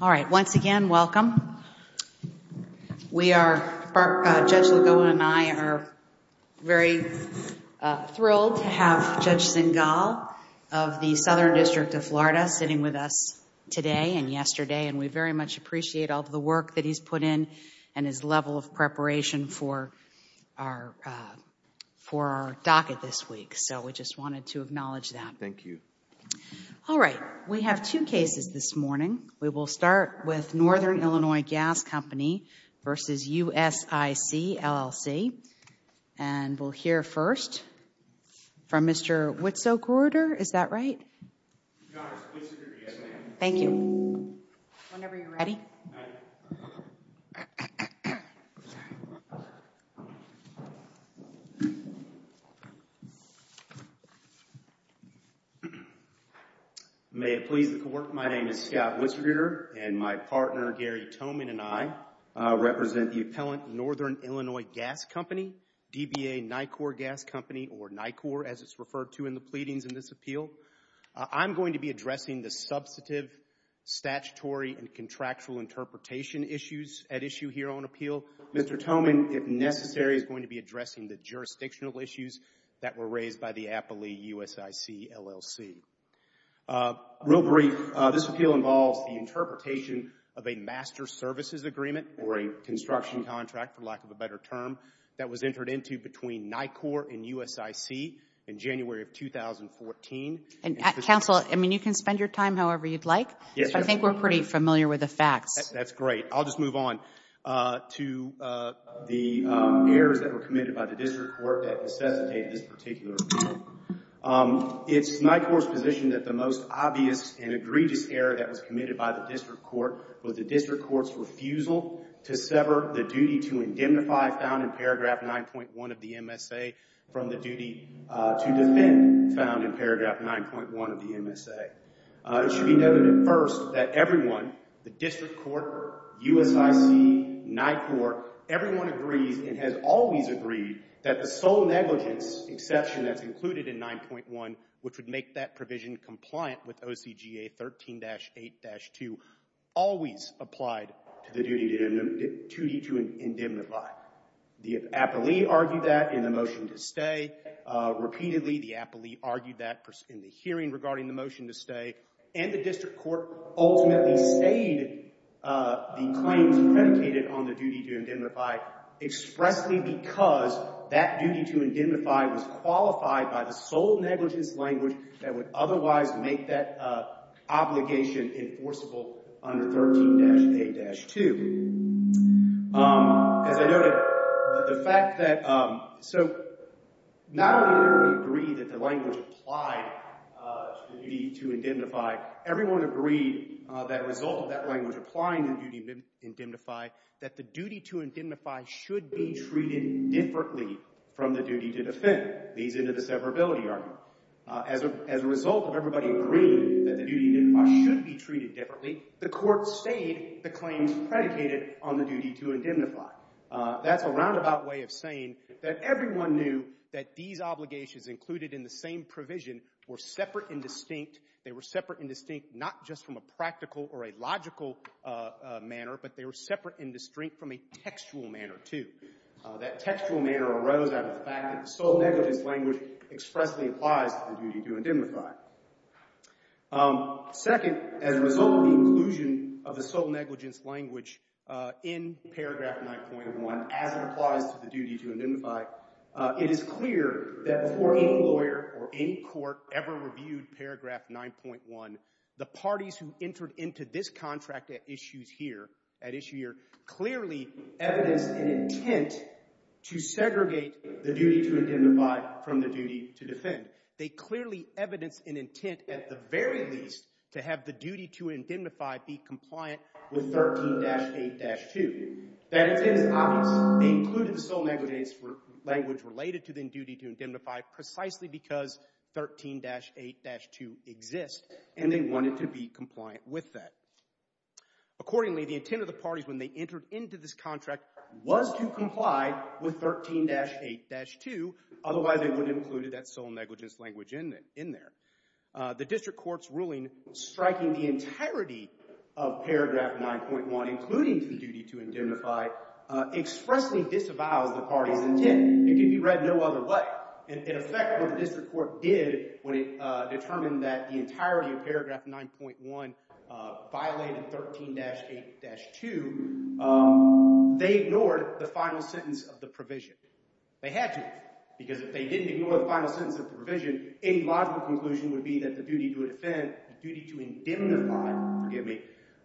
All right, once again, welcome. We are, Judge Lagoa and I are very thrilled to have Judge Zingal of the Southern District of Florida sitting with us today and yesterday, and we very much appreciate all of the work that he's put in and his level of preparation for our docket this week. So we just wanted to acknowledge that. Thank you. All right, we have two cases this morning. We will start with Northern Illinois Gas Company v. USIC, LLC. And we'll hear first from Mr. Witzogrueter. Is that right? Your Honor, it's Witzogrueter, yes ma'am. Thank you. Whenever you're ready. All right. May it please the Court, my name is Scott Witzogrueter, and my partner, Gary Toman and I represent the appellant Northern Illinois Gas Company, DBA NICOR Gas Company, or NICOR as it's referred to in the pleadings in this appeal. I'm going to be addressing the substantive, statutory, and contractual interpretation issues at issue here on appeal. Mr. Toman, if necessary, is going to be addressing the jurisdictional issues that were raised by the appellee USIC, LLC. Real brief, this appeal involves the interpretation of a master services agreement or a construction contract, for lack of a better term, that was entered into between NICOR and USIC in 2014. Counsel, I mean, you can spend your time however you'd like, but I think we're pretty familiar with the facts. That's great. I'll just move on to the errors that were committed by the district court that necessitated this particular appeal. It's NICOR's position that the most obvious and egregious error that was committed by the district court was the district court's refusal to sever the duty to indemnify, found in paragraph 9.1 of the MSA, from the duty to defend, found in paragraph 9.1 of the MSA. It should be noted first that everyone, the district court, USIC, NICOR, everyone agrees and has always agreed that the sole negligence exception that's included in 9.1, which would make that provision compliant with OCGA 13-8-2, always applied to the duty to indemnify. The appellee argued that in the motion to stay. Repeatedly, the appellee argued that in the hearing regarding the motion to stay, and the district court ultimately stayed the claims predicated on the duty to indemnify expressly because that duty to indemnify was qualified by the sole negligence language that would otherwise make that obligation enforceable under 13-8-2. As I noted, the fact that, so not only did everyone agree that the language applied to the duty to indemnify, everyone agreed that a result of that language applying the duty to indemnify, that the duty to indemnify should be treated differently from the duty to defend. Leads into the severability argument. As a result of everybody agreeing that the duty to indemnify should be treated differently, the court stayed the claims predicated on the duty to indemnify. That's a roundabout way of saying that everyone knew that these obligations included in the same provision were separate and distinct. They were separate and distinct not just from a practical or a logical manner, but they were separate and distinct from a textual manner too. That textual manner arose out of the fact that the sole negligence language expressly applies to the duty to indemnify. Second, as a result of the inclusion of the sole negligence language in paragraph 9.1 as it applies to the duty to indemnify, it is clear that before any lawyer or any court ever reviewed paragraph 9.1, the parties who entered into this contract at issues here, at issue here, clearly evidenced an intent to segregate the duty to indemnify from the duty to defend. They clearly evidenced an intent at the very least to have the duty to indemnify be compliant with 13-8-2. That intent is obvious. They included the sole negligence language related to the duty to indemnify precisely because 13-8-2 exists, and they wanted to be compliant with that. Accordingly, the intent of the parties when they entered into this contract was to comply with 13-8-2. Otherwise, they would have included that sole negligence language in there. The district court's ruling striking the entirety of paragraph 9.1, including the duty to indemnify, expressly disavows the parties' intent. It can be read no other way. In effect, what the district court did when it determined that the entirety of paragraph 9.1 violated 13-8-2, they ignored the final sentence of the provision. They had to, because if they didn't ignore the final sentence of the provision, any logical conclusion would be that the duty to defend, the duty to indemnify, forgive me,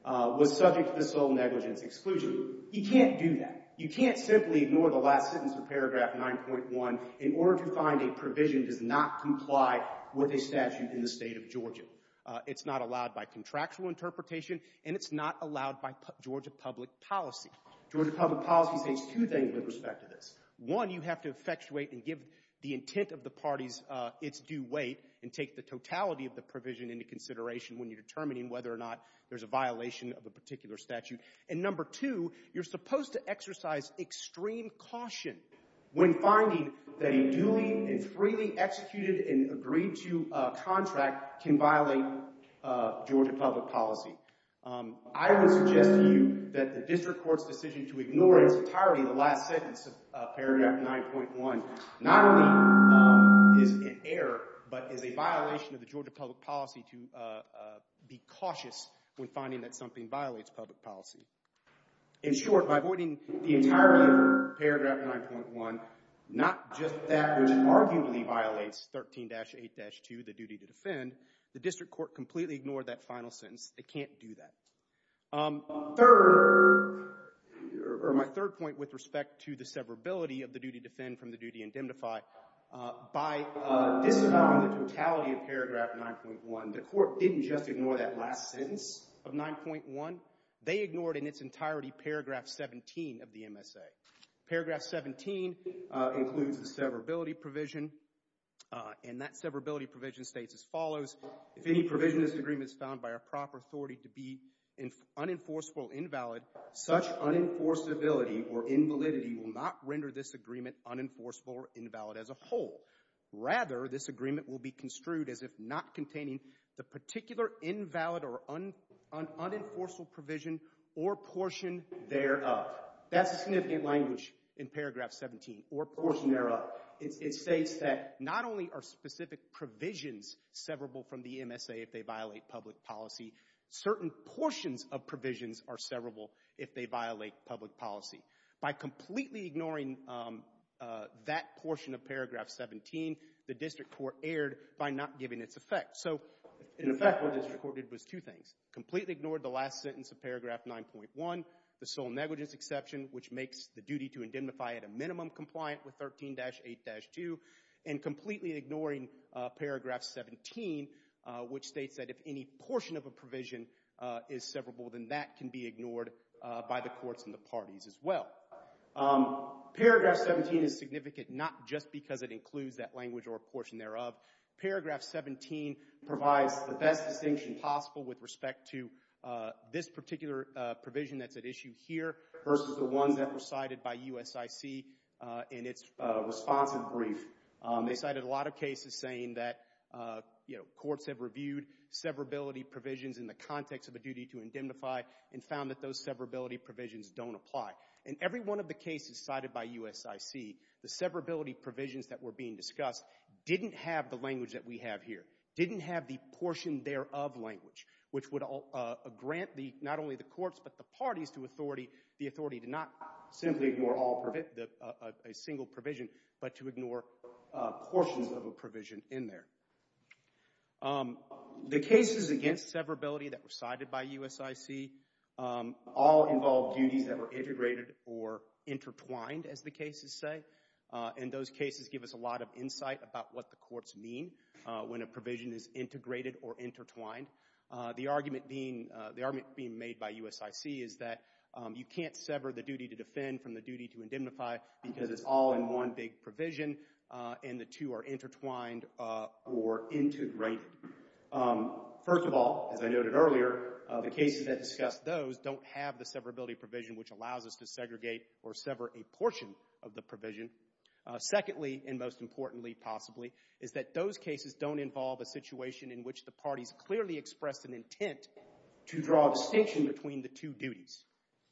was subject to the sole negligence exclusion. You can't do that. You can't simply ignore the last sentence of paragraph 9.1 in order to find a provision does not comply with a statute in the state of Georgia. It's not allowed by contractual interpretation, and it's not allowed by Georgia public policy. Georgia public policy says two things with respect to this. One, you have to effectuate and give the intent of the parties its due weight and take the totality of the provision into consideration when you're determining whether or not there's a violation of a particular statute. And number two, you're supposed to exercise extreme caution. When finding that a duly and freely executed and agreed to contract can violate Georgia public policy. I would suggest to you that the district court's decision to ignore its entirety of the last sentence of paragraph 9.1 not only is an error, but is a violation of the Georgia public policy to be cautious when finding that something violates public policy. In short, by avoiding the entirety of paragraph 9.1, not just that which arguably violates 13-8-2, the duty to defend, the district court completely ignored that final sentence. They can't do that. Third, or my third point with respect to the severability of the duty to defend from the duty indemnify, by disavowing the totality of paragraph 9.1, the court didn't just ignore that last sentence of 9.1. They ignored in its entirety paragraph 17 of the MSA. Paragraph 17 includes the severability provision, and that severability provision states as follows, if any provision of this agreement is found by a proper authority to be unenforceable or invalid, such unenforceability or invalidity will not render this agreement unenforceable or invalid as a whole. Rather, this agreement will be construed as if not containing the particular invalid or unenforceable provision or portion thereof. That's a significant language in paragraph 17, or portion thereof. It states that not only are specific provisions severable from the MSA if they violate public policy, certain portions of provisions are severable if they violate public policy. By completely ignoring that portion of paragraph 17, the district court erred by not giving its effect. So, in effect, what the district court did was two things. Completely ignored the last sentence of paragraph 9.1, the sole negligence exception, which makes the duty to indemnify at a minimum compliant with 13-8-2, and completely ignoring paragraph 17, which states that if any portion of a provision is severable, then that can be ignored by the courts and the parties as well. Paragraph 17 is significant not just because it includes that language or portion thereof. Paragraph 17 provides the best distinction possible with respect to this particular provision that's at issue here versus the ones that were cited by USIC in its responsive brief. They cited a lot of cases saying that, you know, courts have reviewed severability provisions in the context of a duty to indemnify and found that those severability provisions don't apply. In every one of the cases cited by USIC, the severability provisions that were being discussed didn't have the language that we have here, didn't have the portion thereof language, which would grant not only the courts but the parties the authority to not simply ignore a single provision, but to ignore portions of a provision in there. The cases against severability that were cited by USIC all involved duties that were integrated or intertwined, as the cases say. And those cases give us a lot of insight about what the courts mean when a provision is integrated or intertwined. The argument being made by USIC is that you can't sever the duty to defend from the duty to indemnify because it's all in one big provision and the two are intertwined or integrated. First of all, as I noted earlier, the cases that discuss those don't have the severability provision which allows us to segregate or sever a portion of the provision. Secondly, and most importantly possibly, is that those cases don't involve a situation in which the parties clearly express an intent to draw a distinction between the two duties.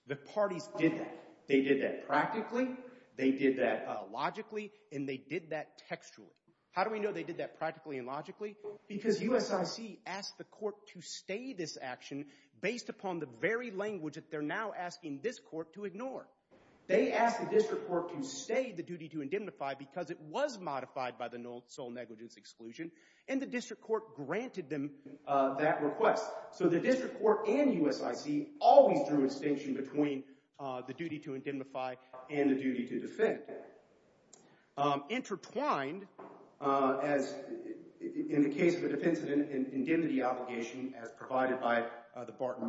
The parties did that. They did that practically, they did that logically, and they did that textually. How do we know they did that practically and logically? Because USIC asked the court to stay this action based upon the very language that they're now asking this court to ignore. They asked the district court to stay the duty to indemnify because it was modified by the sole negligence exclusion, and the district court granted them that request. So the district court and USIC always drew a distinction between the duty to indemnify and the duty to defend. Intertwined, as in the case of a defense of an indemnity obligation as provided by the court,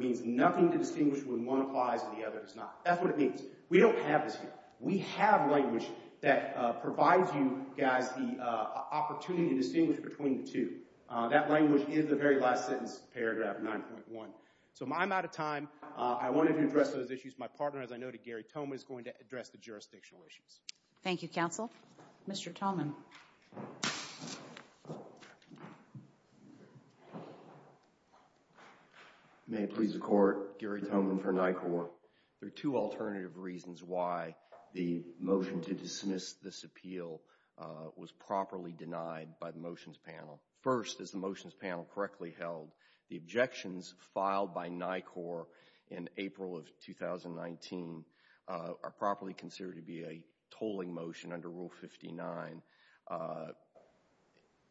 means nothing to distinguish when one applies and the other does not. That's what it means. We don't have this here. We have language that provides you guys the opportunity to distinguish between the two. That language is the very last sentence, paragraph 9.1. So I'm out of time. I wanted to address those issues. My partner, as I noted, Gary Thoma, is going to address the jurisdictional issues. Thank you, counsel. Mr. Thoma. May it please the court, Gary Thoma for NICOR. There are two alternative reasons why the motion to dismiss this appeal was properly denied by the motions panel. First, is the motions panel correctly held? The objections filed by NICOR in April of 2019 are properly considered to be a tolling motion under Rule 59,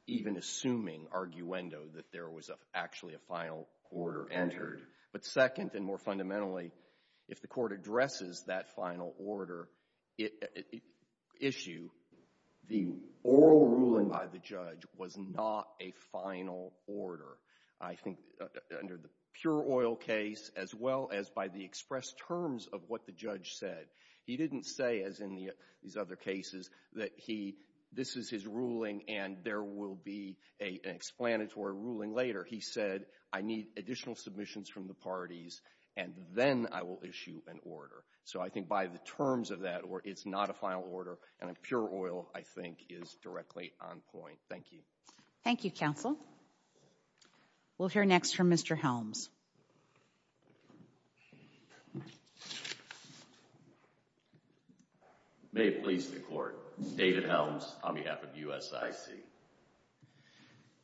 even assuming, arguendo, that there was actually a final order entered. But second, and more fundamentally, if the court addresses that final order issue, the oral ruling by the judge was not a final order. I think under the pure oil case, as well as by the expressed terms of what the judge said, he didn't say, as in these other cases, that this is his ruling and there will be an explanatory ruling later. He said, I need additional submissions from the parties, and then I will issue an order. So I think by the terms of that, it's not a final order, and a pure oil, I think, is directly on point. Thank you. Thank you, counsel. We'll hear next from Mr. Helms. Please. May it please the court, David Helms on behalf of USIC.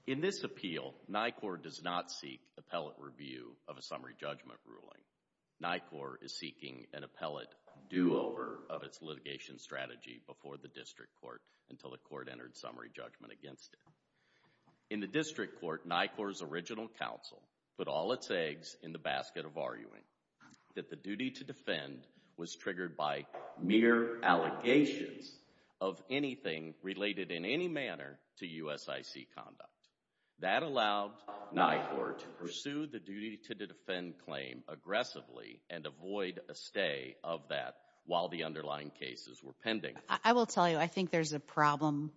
In this appeal, NICOR does not seek appellate review of a summary judgment ruling. NICOR is seeking an appellate do-over of its litigation strategy before the district court until the court entered summary judgment against it. In the district court, NICOR's original counsel put all its eggs in the basket of arguing that the duty to defend was triggered by mere allegations of anything related in any manner to USIC conduct. That allowed NICOR to pursue the duty to defend claim aggressively and avoid a stay of that while the underlying cases were pending. I will tell you, I think there's a problem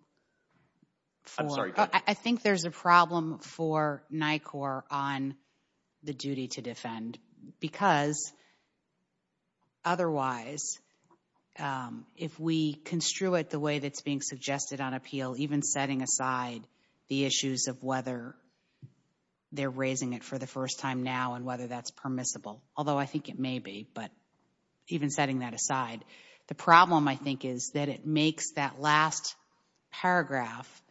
for NICOR on the duty to defend, because otherwise, if we construe it the way that's being suggested on appeal, even setting aside the issues of whether they're raising it for the first time now and whether that's permissible, although I think it may be, but even setting that aside, the problem, I think, is that it makes that last paragraph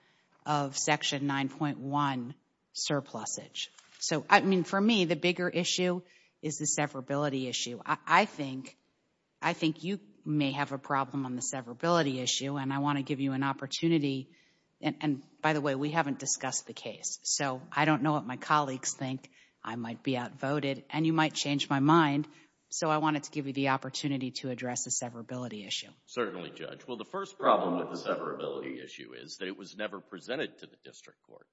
of Section 9.1 surplusage. So, I mean, for me, the bigger issue is the severability issue. I think you may have a problem on the severability issue, and I want to give you an opportunity. And by the way, we haven't discussed the case, so I don't know what my colleagues think. I might be outvoted, and you might change my mind. So I wanted to give you the opportunity to address the severability issue. Certainly, Judge. Well, the first problem with the severability issue is that it was never presented to the district court.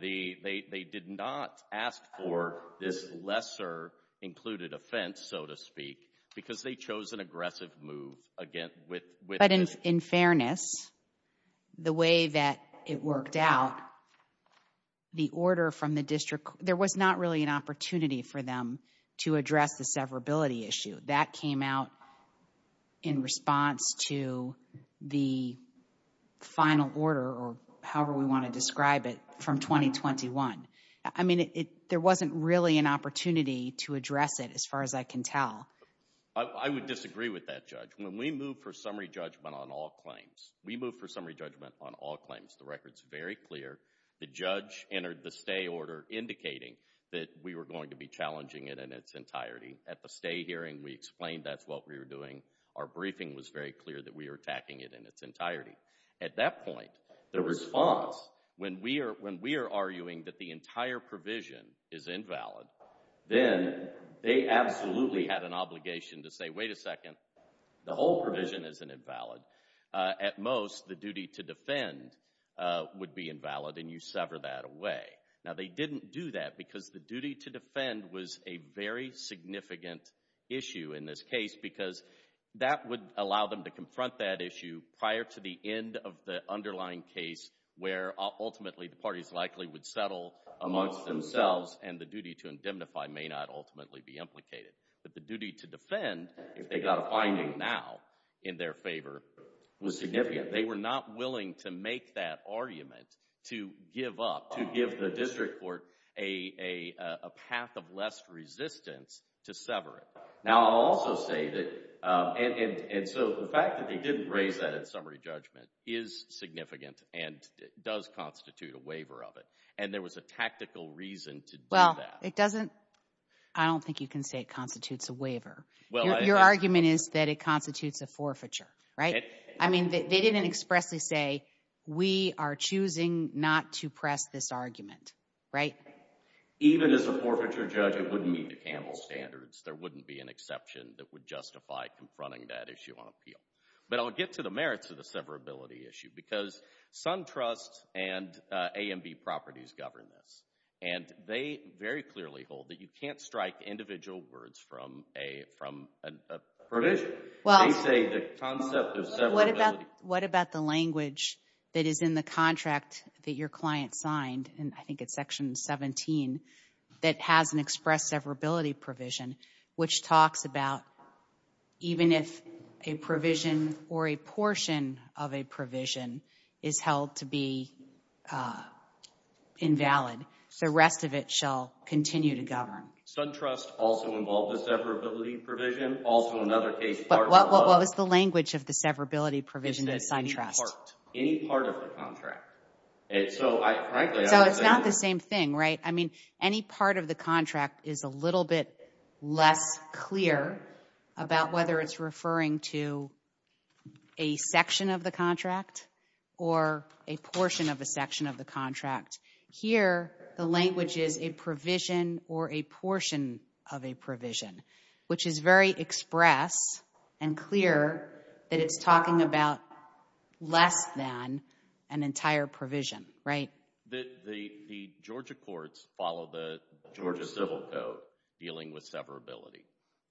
They did not ask for this lesser included offense, so to speak, because they chose an aggressive move with this. But in fairness, the way that it worked out, the order from the district court, there was not really an opportunity for them to address the severability issue. That came out in response to the final order, or however we want to describe it, from 2021. I mean, there wasn't really an opportunity to address it, as far as I can tell. I would disagree with that, Judge. When we move for summary judgment on all claims, we move for summary judgment on all claims. The record's very clear. The judge entered the stay order indicating that we were going to be challenging it in its entirety. At the stay hearing, we explained that's what we were doing. Our briefing was very clear that we were attacking it in its entirety. At that point, the response, when we are arguing that the entire provision is invalid, then they absolutely had an obligation to say, wait a second, the whole provision isn't invalid. At most, the duty to defend would be invalid, and you sever that away. Now, they didn't do that because the duty to defend was a very significant issue in this case because that would allow them to confront that issue prior to the end of the underlying case where ultimately the parties likely would settle amongst themselves, and the duty to indemnify may not ultimately be implicated. But the duty to defend, if they got a finding now in their favor, was significant. They were not willing to make that argument to give up, to give the district court a path of less resistance to sever it. Now, I'll also say that, and so the fact that they didn't raise that in summary judgment is significant and does constitute a waiver of it, and there was a tactical reason to do that. It doesn't, I don't think you can say it constitutes a waiver. Your argument is that it constitutes a forfeiture, right? I mean, they didn't expressly say, we are choosing not to press this argument, right? Even as a forfeiture judge, it wouldn't meet the Campbell standards. There wouldn't be an exception that would justify confronting that issue on appeal. But I'll get to the merits of the severability issue because SunTrust and A&B Properties govern this, and they very clearly hold that you can't strike individual words from a provision. They say the concept of severability. What about the language that is in the contract that your client signed, and I think it's section 17, that has an express severability provision, which talks about even if a provision or a portion of a provision is held to be invalid, the rest of it shall continue to govern. SunTrust also involved a severability provision, also another case part of the law. But what was the language of the severability provision that SunTrust? It said any part, any part of the contract. So it's not the same thing, right? I mean, any part of the contract is a little bit less clear about whether it's referring to a section of the contract or a portion of a section of the contract. Here, the language is a provision or a portion of a provision, which is very express and clear that it's talking about less than an entire provision, right? The Georgia courts follow the Georgia civil code dealing with severability,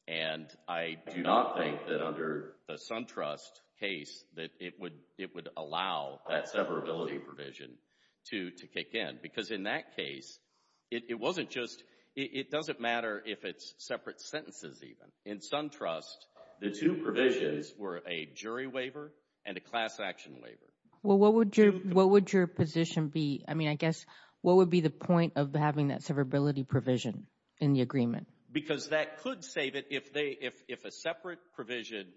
and I do not think that under the SunTrust case that it would allow that severability provision to kick in, because in that case, it wasn't just, it doesn't matter if it's separate sentences even. In SunTrust, the two provisions were a jury waiver and a class action waiver. Well, what would your position be? I mean, I guess what would be the point of having that severability provision in the agreement? Because that could save it if a separate provision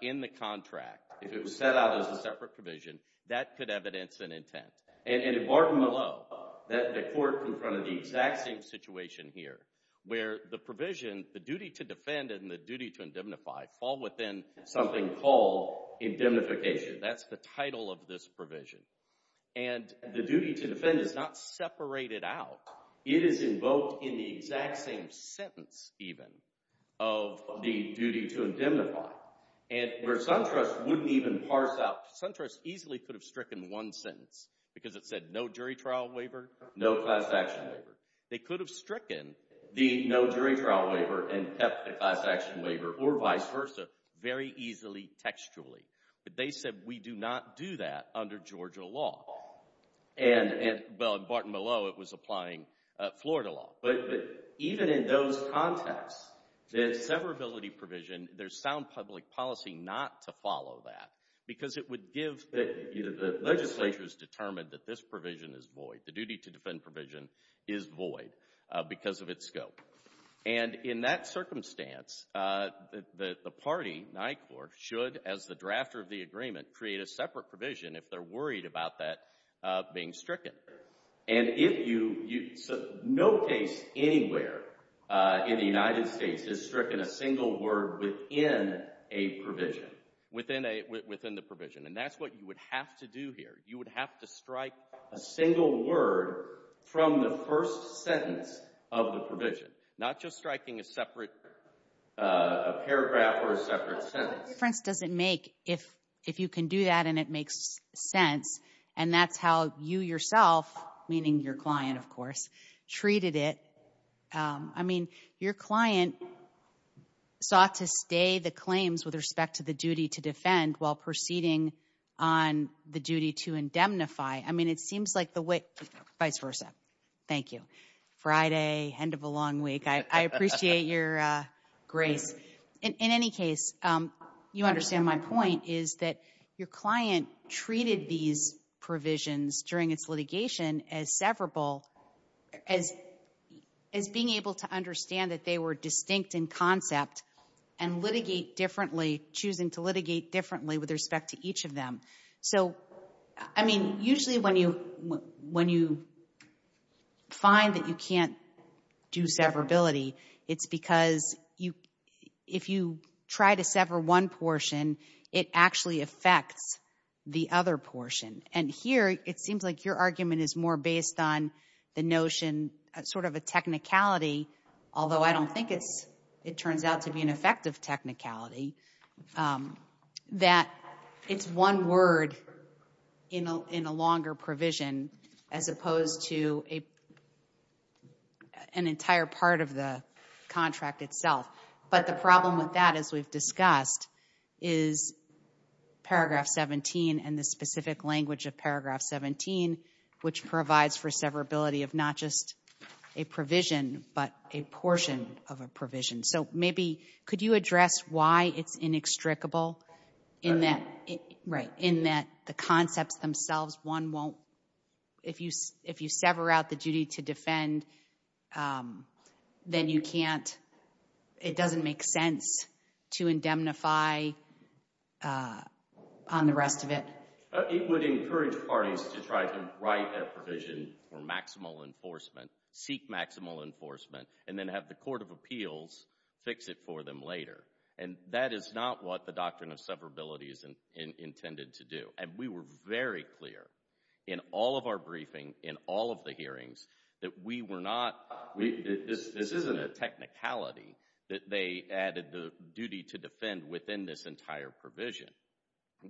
in the contract, if it was set out as a separate provision, that could evidence an intent. And in Barton Malone, the court confronted the exact same situation here, where the provision, the duty to defend and the duty to indemnify fall within something called indemnification. That's the title of this provision. And the duty to defend is not separated out. It is invoked in the exact same sentence even of the duty to indemnify. And where SunTrust wouldn't even parse out, SunTrust easily could have stricken one sentence because it said no jury trial waiver, no class action waiver. They could have stricken the no jury trial waiver and kept the class action waiver or vice versa very easily textually. But they said we do not do that under Georgia law. And, well, in Barton Malone, it was applying Florida law. But even in those contexts, the severability provision, there's sound public policy not to follow that because it would give that either the legislature has determined that this provision is void, the duty to defend provision is void because of its scope. And in that circumstance, the party, NICOR, should, as the drafter of the agreement, create a separate provision if they're worried about that being stricken. And no case anywhere in the United States has stricken a single word within a provision. Within the provision. And that's what you would have to do here. You would have to strike a single word from the first sentence of the provision, not just striking a separate paragraph or a separate sentence. What difference does it make if you can do that and it makes sense? And that's how you yourself, meaning your client, of course, treated it. I mean, your client sought to stay the claims with respect to the duty to defend while proceeding on the duty to indemnify. I mean, it seems like the way, vice versa. Thank you. Friday, end of a long week. I appreciate your grace. In any case, you understand my point is that your client treated these provisions during its litigation as severable, as being able to understand that they were distinct in concept and litigate differently, choosing to litigate differently with respect to each of them. So, I mean, usually when you find that you can't do severability, it's because if you try to sever one portion, it actually affects the other portion. And here it seems like your argument is more based on the notion, sort of a technicality, although I don't think it turns out to be an effective technicality, that it's one word in a longer provision as opposed to an entire part of the contract itself. But the problem with that, as we've discussed, is paragraph 17 and the specific language of paragraph 17, which provides for severability of not just a provision but a portion of a provision. So maybe could you address why it's inextricable in that the concepts themselves, one won't, if you sever out the duty to defend, then you can't, it doesn't make sense to indemnify on the rest of it. It would encourage parties to try to write a provision for maximal enforcement, seek maximal enforcement, and then have the court of appeals fix it for them later. And that is not what the doctrine of severability is intended to do. And we were very clear in all of our briefing, in all of the hearings, that we were not, this isn't a technicality that they added the duty to defend within this entire provision.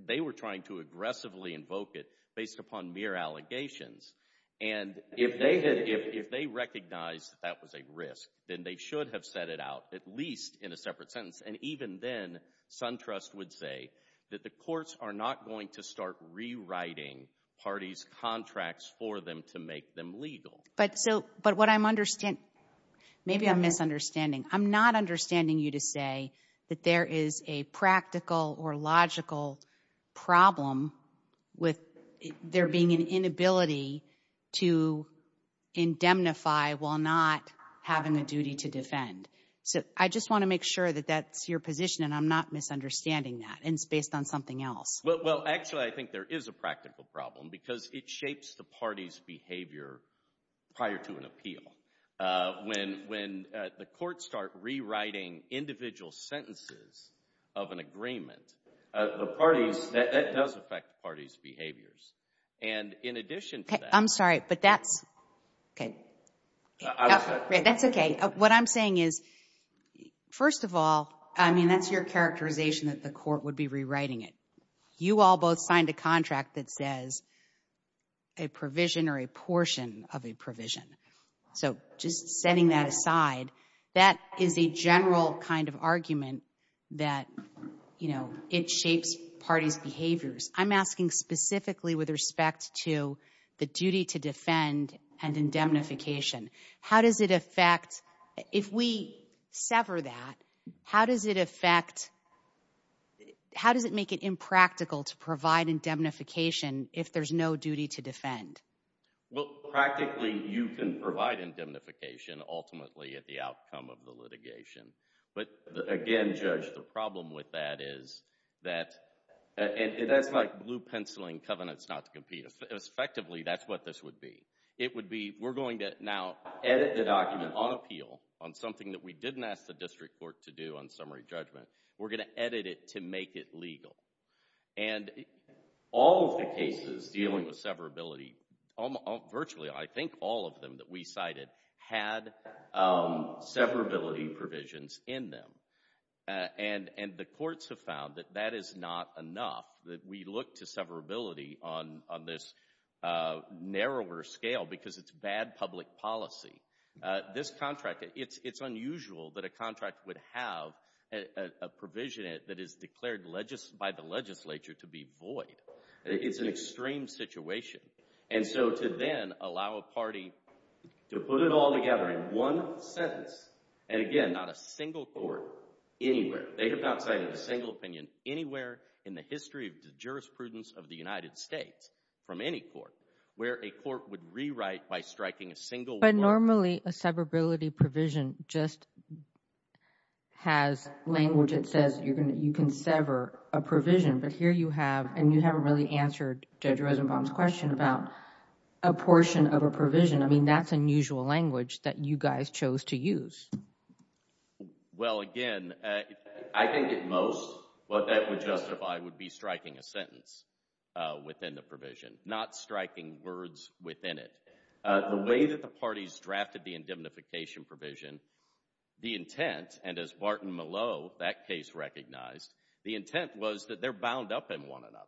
They were trying to aggressively invoke it based upon mere allegations. And if they recognized that that was a risk, then they should have set it out, at least in a separate sentence. And even then, SunTrust would say that the courts are not going to start rewriting parties' contracts for them to make them legal. But so, but what I'm understanding, maybe I'm misunderstanding. I'm not understanding you to say that there is a practical or logical problem with there being an inability to indemnify while not having a duty to defend. So I just want to make sure that that's your position and I'm not misunderstanding that and it's based on something else. Well, actually, I think there is a practical problem because it shapes the party's behavior prior to an appeal. When the courts start rewriting individual sentences of an agreement, the parties, that does affect the parties' behaviors. And in addition to that. I'm sorry, but that's, okay. That's okay. What I'm saying is, first of all, I mean, that's your characterization that the court would be rewriting it. You all both signed a contract that says a provision or a portion of a provision. So just setting that aside, that is a general kind of argument that, you know, it shapes parties' behaviors. I'm asking specifically with respect to the duty to defend and indemnification. How does it affect, if we sever that, how does it affect, how does it make it impractical to provide indemnification if there's no duty to defend? Well, practically, you can provide indemnification ultimately at the outcome of the litigation. But again, Judge, the problem with that is that, and that's like blue penciling covenants not to compete. Effectively, that's what this would be. It would be, we're going to now edit the document on appeal on something that we didn't ask the district court to do on summary judgment. We're going to edit it to make it legal. And all of the cases dealing with severability, virtually I think all of them that we cited, had severability provisions in them. And the courts have found that that is not enough, that we look to severability on this narrower scale because it's bad public policy. This contract, it's unusual that a contract would have a provision that is declared by the legislature to be void. It's an extreme situation. And so to then allow a party to put it all together in one sentence, and again, not a single court anywhere. They have not cited a single opinion anywhere in the history of the jurisprudence of the United States from any court where a court would rewrite by striking a single word. But normally a severability provision just has language that says you can sever a provision. But here you have, and you haven't really answered Judge Rosenbaum's question about a portion of a provision. I mean, that's unusual language that you guys chose to use. Well, again, I think at most what that would justify would be striking a sentence within the provision, not striking words within it. The way that the parties drafted the indemnification provision, the intent, and as Barton Malow, that case, recognized, the intent was that they're bound up in one another.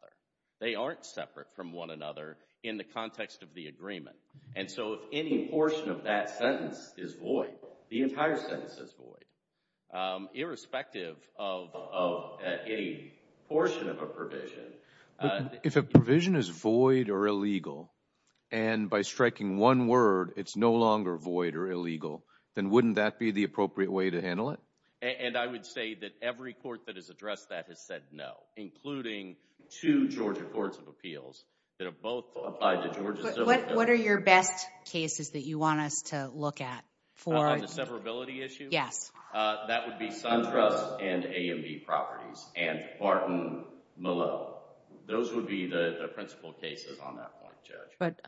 They aren't separate from one another in the context of the agreement. And so if any portion of that sentence is void, the entire sentence is void, irrespective of any portion of a provision. If a provision is void or illegal, and by striking one word, it's no longer void or illegal, then wouldn't that be the appropriate way to handle it? And I would say that every court that has addressed that has said no, including two Georgia courts of appeals that have both applied to Georgia civil affiliation. What are your best cases that you want us to look at? On the severability issue? Yes. That would be SunTrust and A&B Properties and Barton Malow. Those would be the principal cases on that point, Judge. But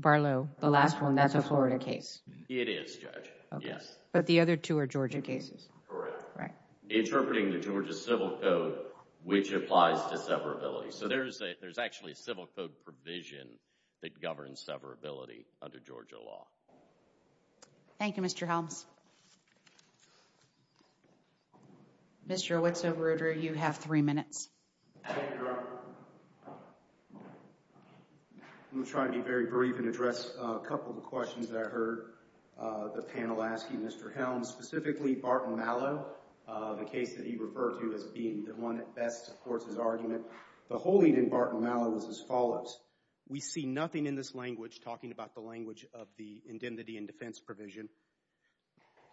Barlow, the last one, that's a Florida case. It is, Judge, yes. But the other two are Georgia cases. Correct. Interpreting the Georgia civil code, which applies to severability. So there's actually a civil code provision that governs severability under Georgia law. Thank you, Mr. Helms. Mr. Owitso-Rooder, you have three minutes. Thank you, Your Honor. I'm going to try to be very brief and address a couple of the questions that I heard the panel asking. Mr. Helms, specifically Barton Malow, the case that he referred to as being the one that best supports his argument. The holding in Barton Malow is as follows. We see nothing in this language talking about the language of the indemnity and defense provision.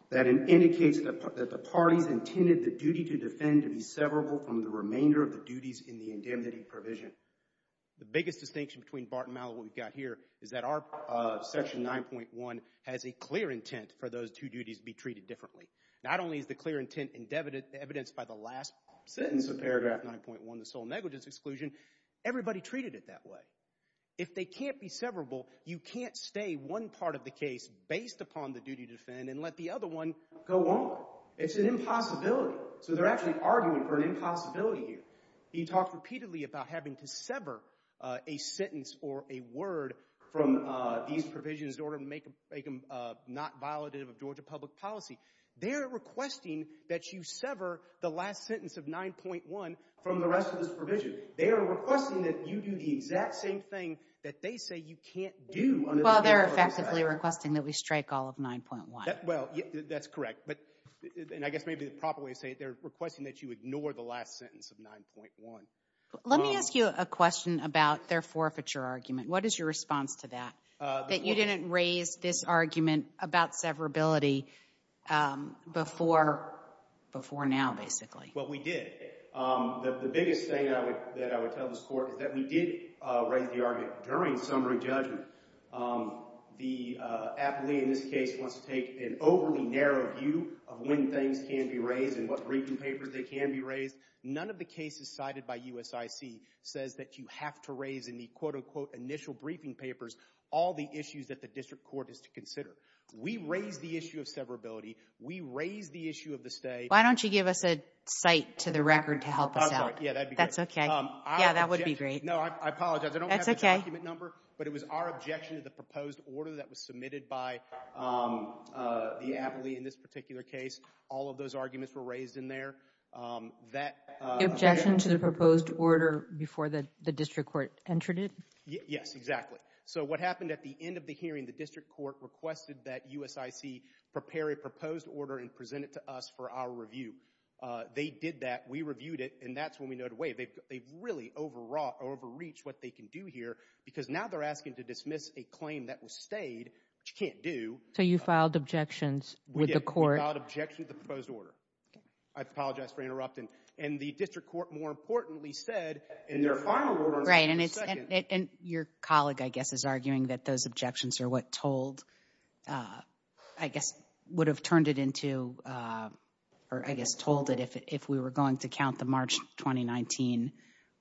That indicates that the parties intended the duty to defend to be severable from the remainder of the duties in the indemnity provision. The biggest distinction between Barton Malow and what we've got here is that our section 9.1 has a clear intent for those two duties to be treated differently. Not only is the clear intent evidenced by the last sentence of paragraph 9.1, the sole negligence exclusion. Everybody treated it that way. If they can't be severable, you can't stay one part of the case based upon the duty to defend and let the other one go on. It's an impossibility. So they're actually arguing for an impossibility here. He talked repeatedly about having to sever a sentence or a word from these provisions in order to make them not violative of Georgia public policy. They're requesting that you sever the last sentence of 9.1 from the rest of this provision. They are requesting that you do the exact same thing that they say you can't do. Well, they're effectively requesting that we strike all of 9.1. Well, that's correct. And I guess maybe the proper way to say it, they're requesting that you ignore the last sentence of 9.1. Let me ask you a question about their forfeiture argument. What is your response to that, that you didn't raise this argument about severability before now, basically? Well, we did. The biggest thing that I would tell this court is that we did raise the argument during summary judgment. The appellee in this case wants to take an overly narrow view of when things can be raised and what briefing papers they can be raised. None of the cases cited by USIC says that you have to raise in the, quote, unquote, initial briefing papers all the issues that the district court is to consider. We raised the issue of severability. We raised the issue of the stay. Why don't you give us a cite to the record to help us out? Yeah, that'd be great. That's okay. Yeah, that would be great. No, I apologize. I don't have the document number. That's okay. But it was our objection to the proposed order that was submitted by the appellee in this particular case. All of those arguments were raised in there. The objection to the proposed order before the district court entered it? Yes, exactly. So what happened at the end of the hearing, the district court requested that USIC prepare a proposed order and present it to us for our review. They did that. We reviewed it, and that's when we know it away. They've really overreached what they can do here because now they're asking to dismiss a claim that was stayed, which you can't do. So you filed objections with the court? We did. We filed objections to the proposed order. I apologize for interrupting. And the district court, more importantly, said in their final order on September 2nd— Right, and your colleague, I guess, is arguing that those objections are what told, I guess, would have turned it into, or I guess told it if we were going to count the March 2019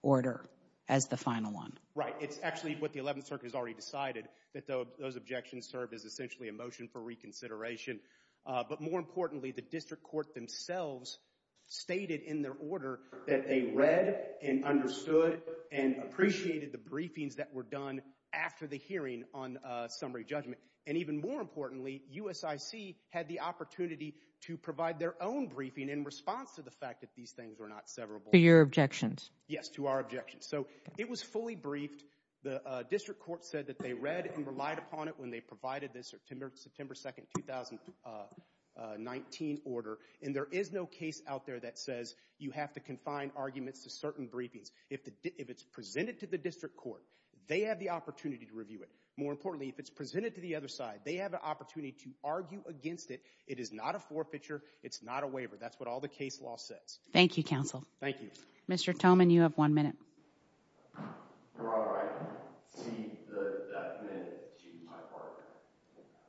order as the final one. Right. It's actually what the 11th Circuit has already decided, that those objections serve as essentially a motion for reconsideration. But more importantly, the district court themselves stated in their order that they read and understood and appreciated the briefings that were done after the hearing on summary judgment. And even more importantly, USIC had the opportunity to provide their own briefing in response to the fact that these things were not severable. To your objections? Yes, to our objections. So it was fully briefed. The district court said that they read and relied upon it when they provided this September 2nd, 2019 order. And there is no case out there that says you have to confine arguments to certain briefings. If it's presented to the district court, they have the opportunity to review it. More importantly, if it's presented to the other side, they have an opportunity to argue against it. It is not a forfeiture. It's not a waiver. That's what all the case law says. Thank you, counsel. Thank you. Mr. Thoman, you have one minute.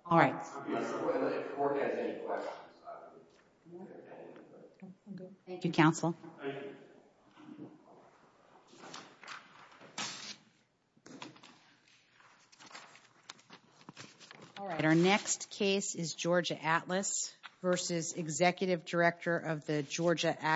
All right. Thank you, counsel. Thank you. All right. Our next case is Georgia Atlas v. Executive Director of the Georgia Access Center.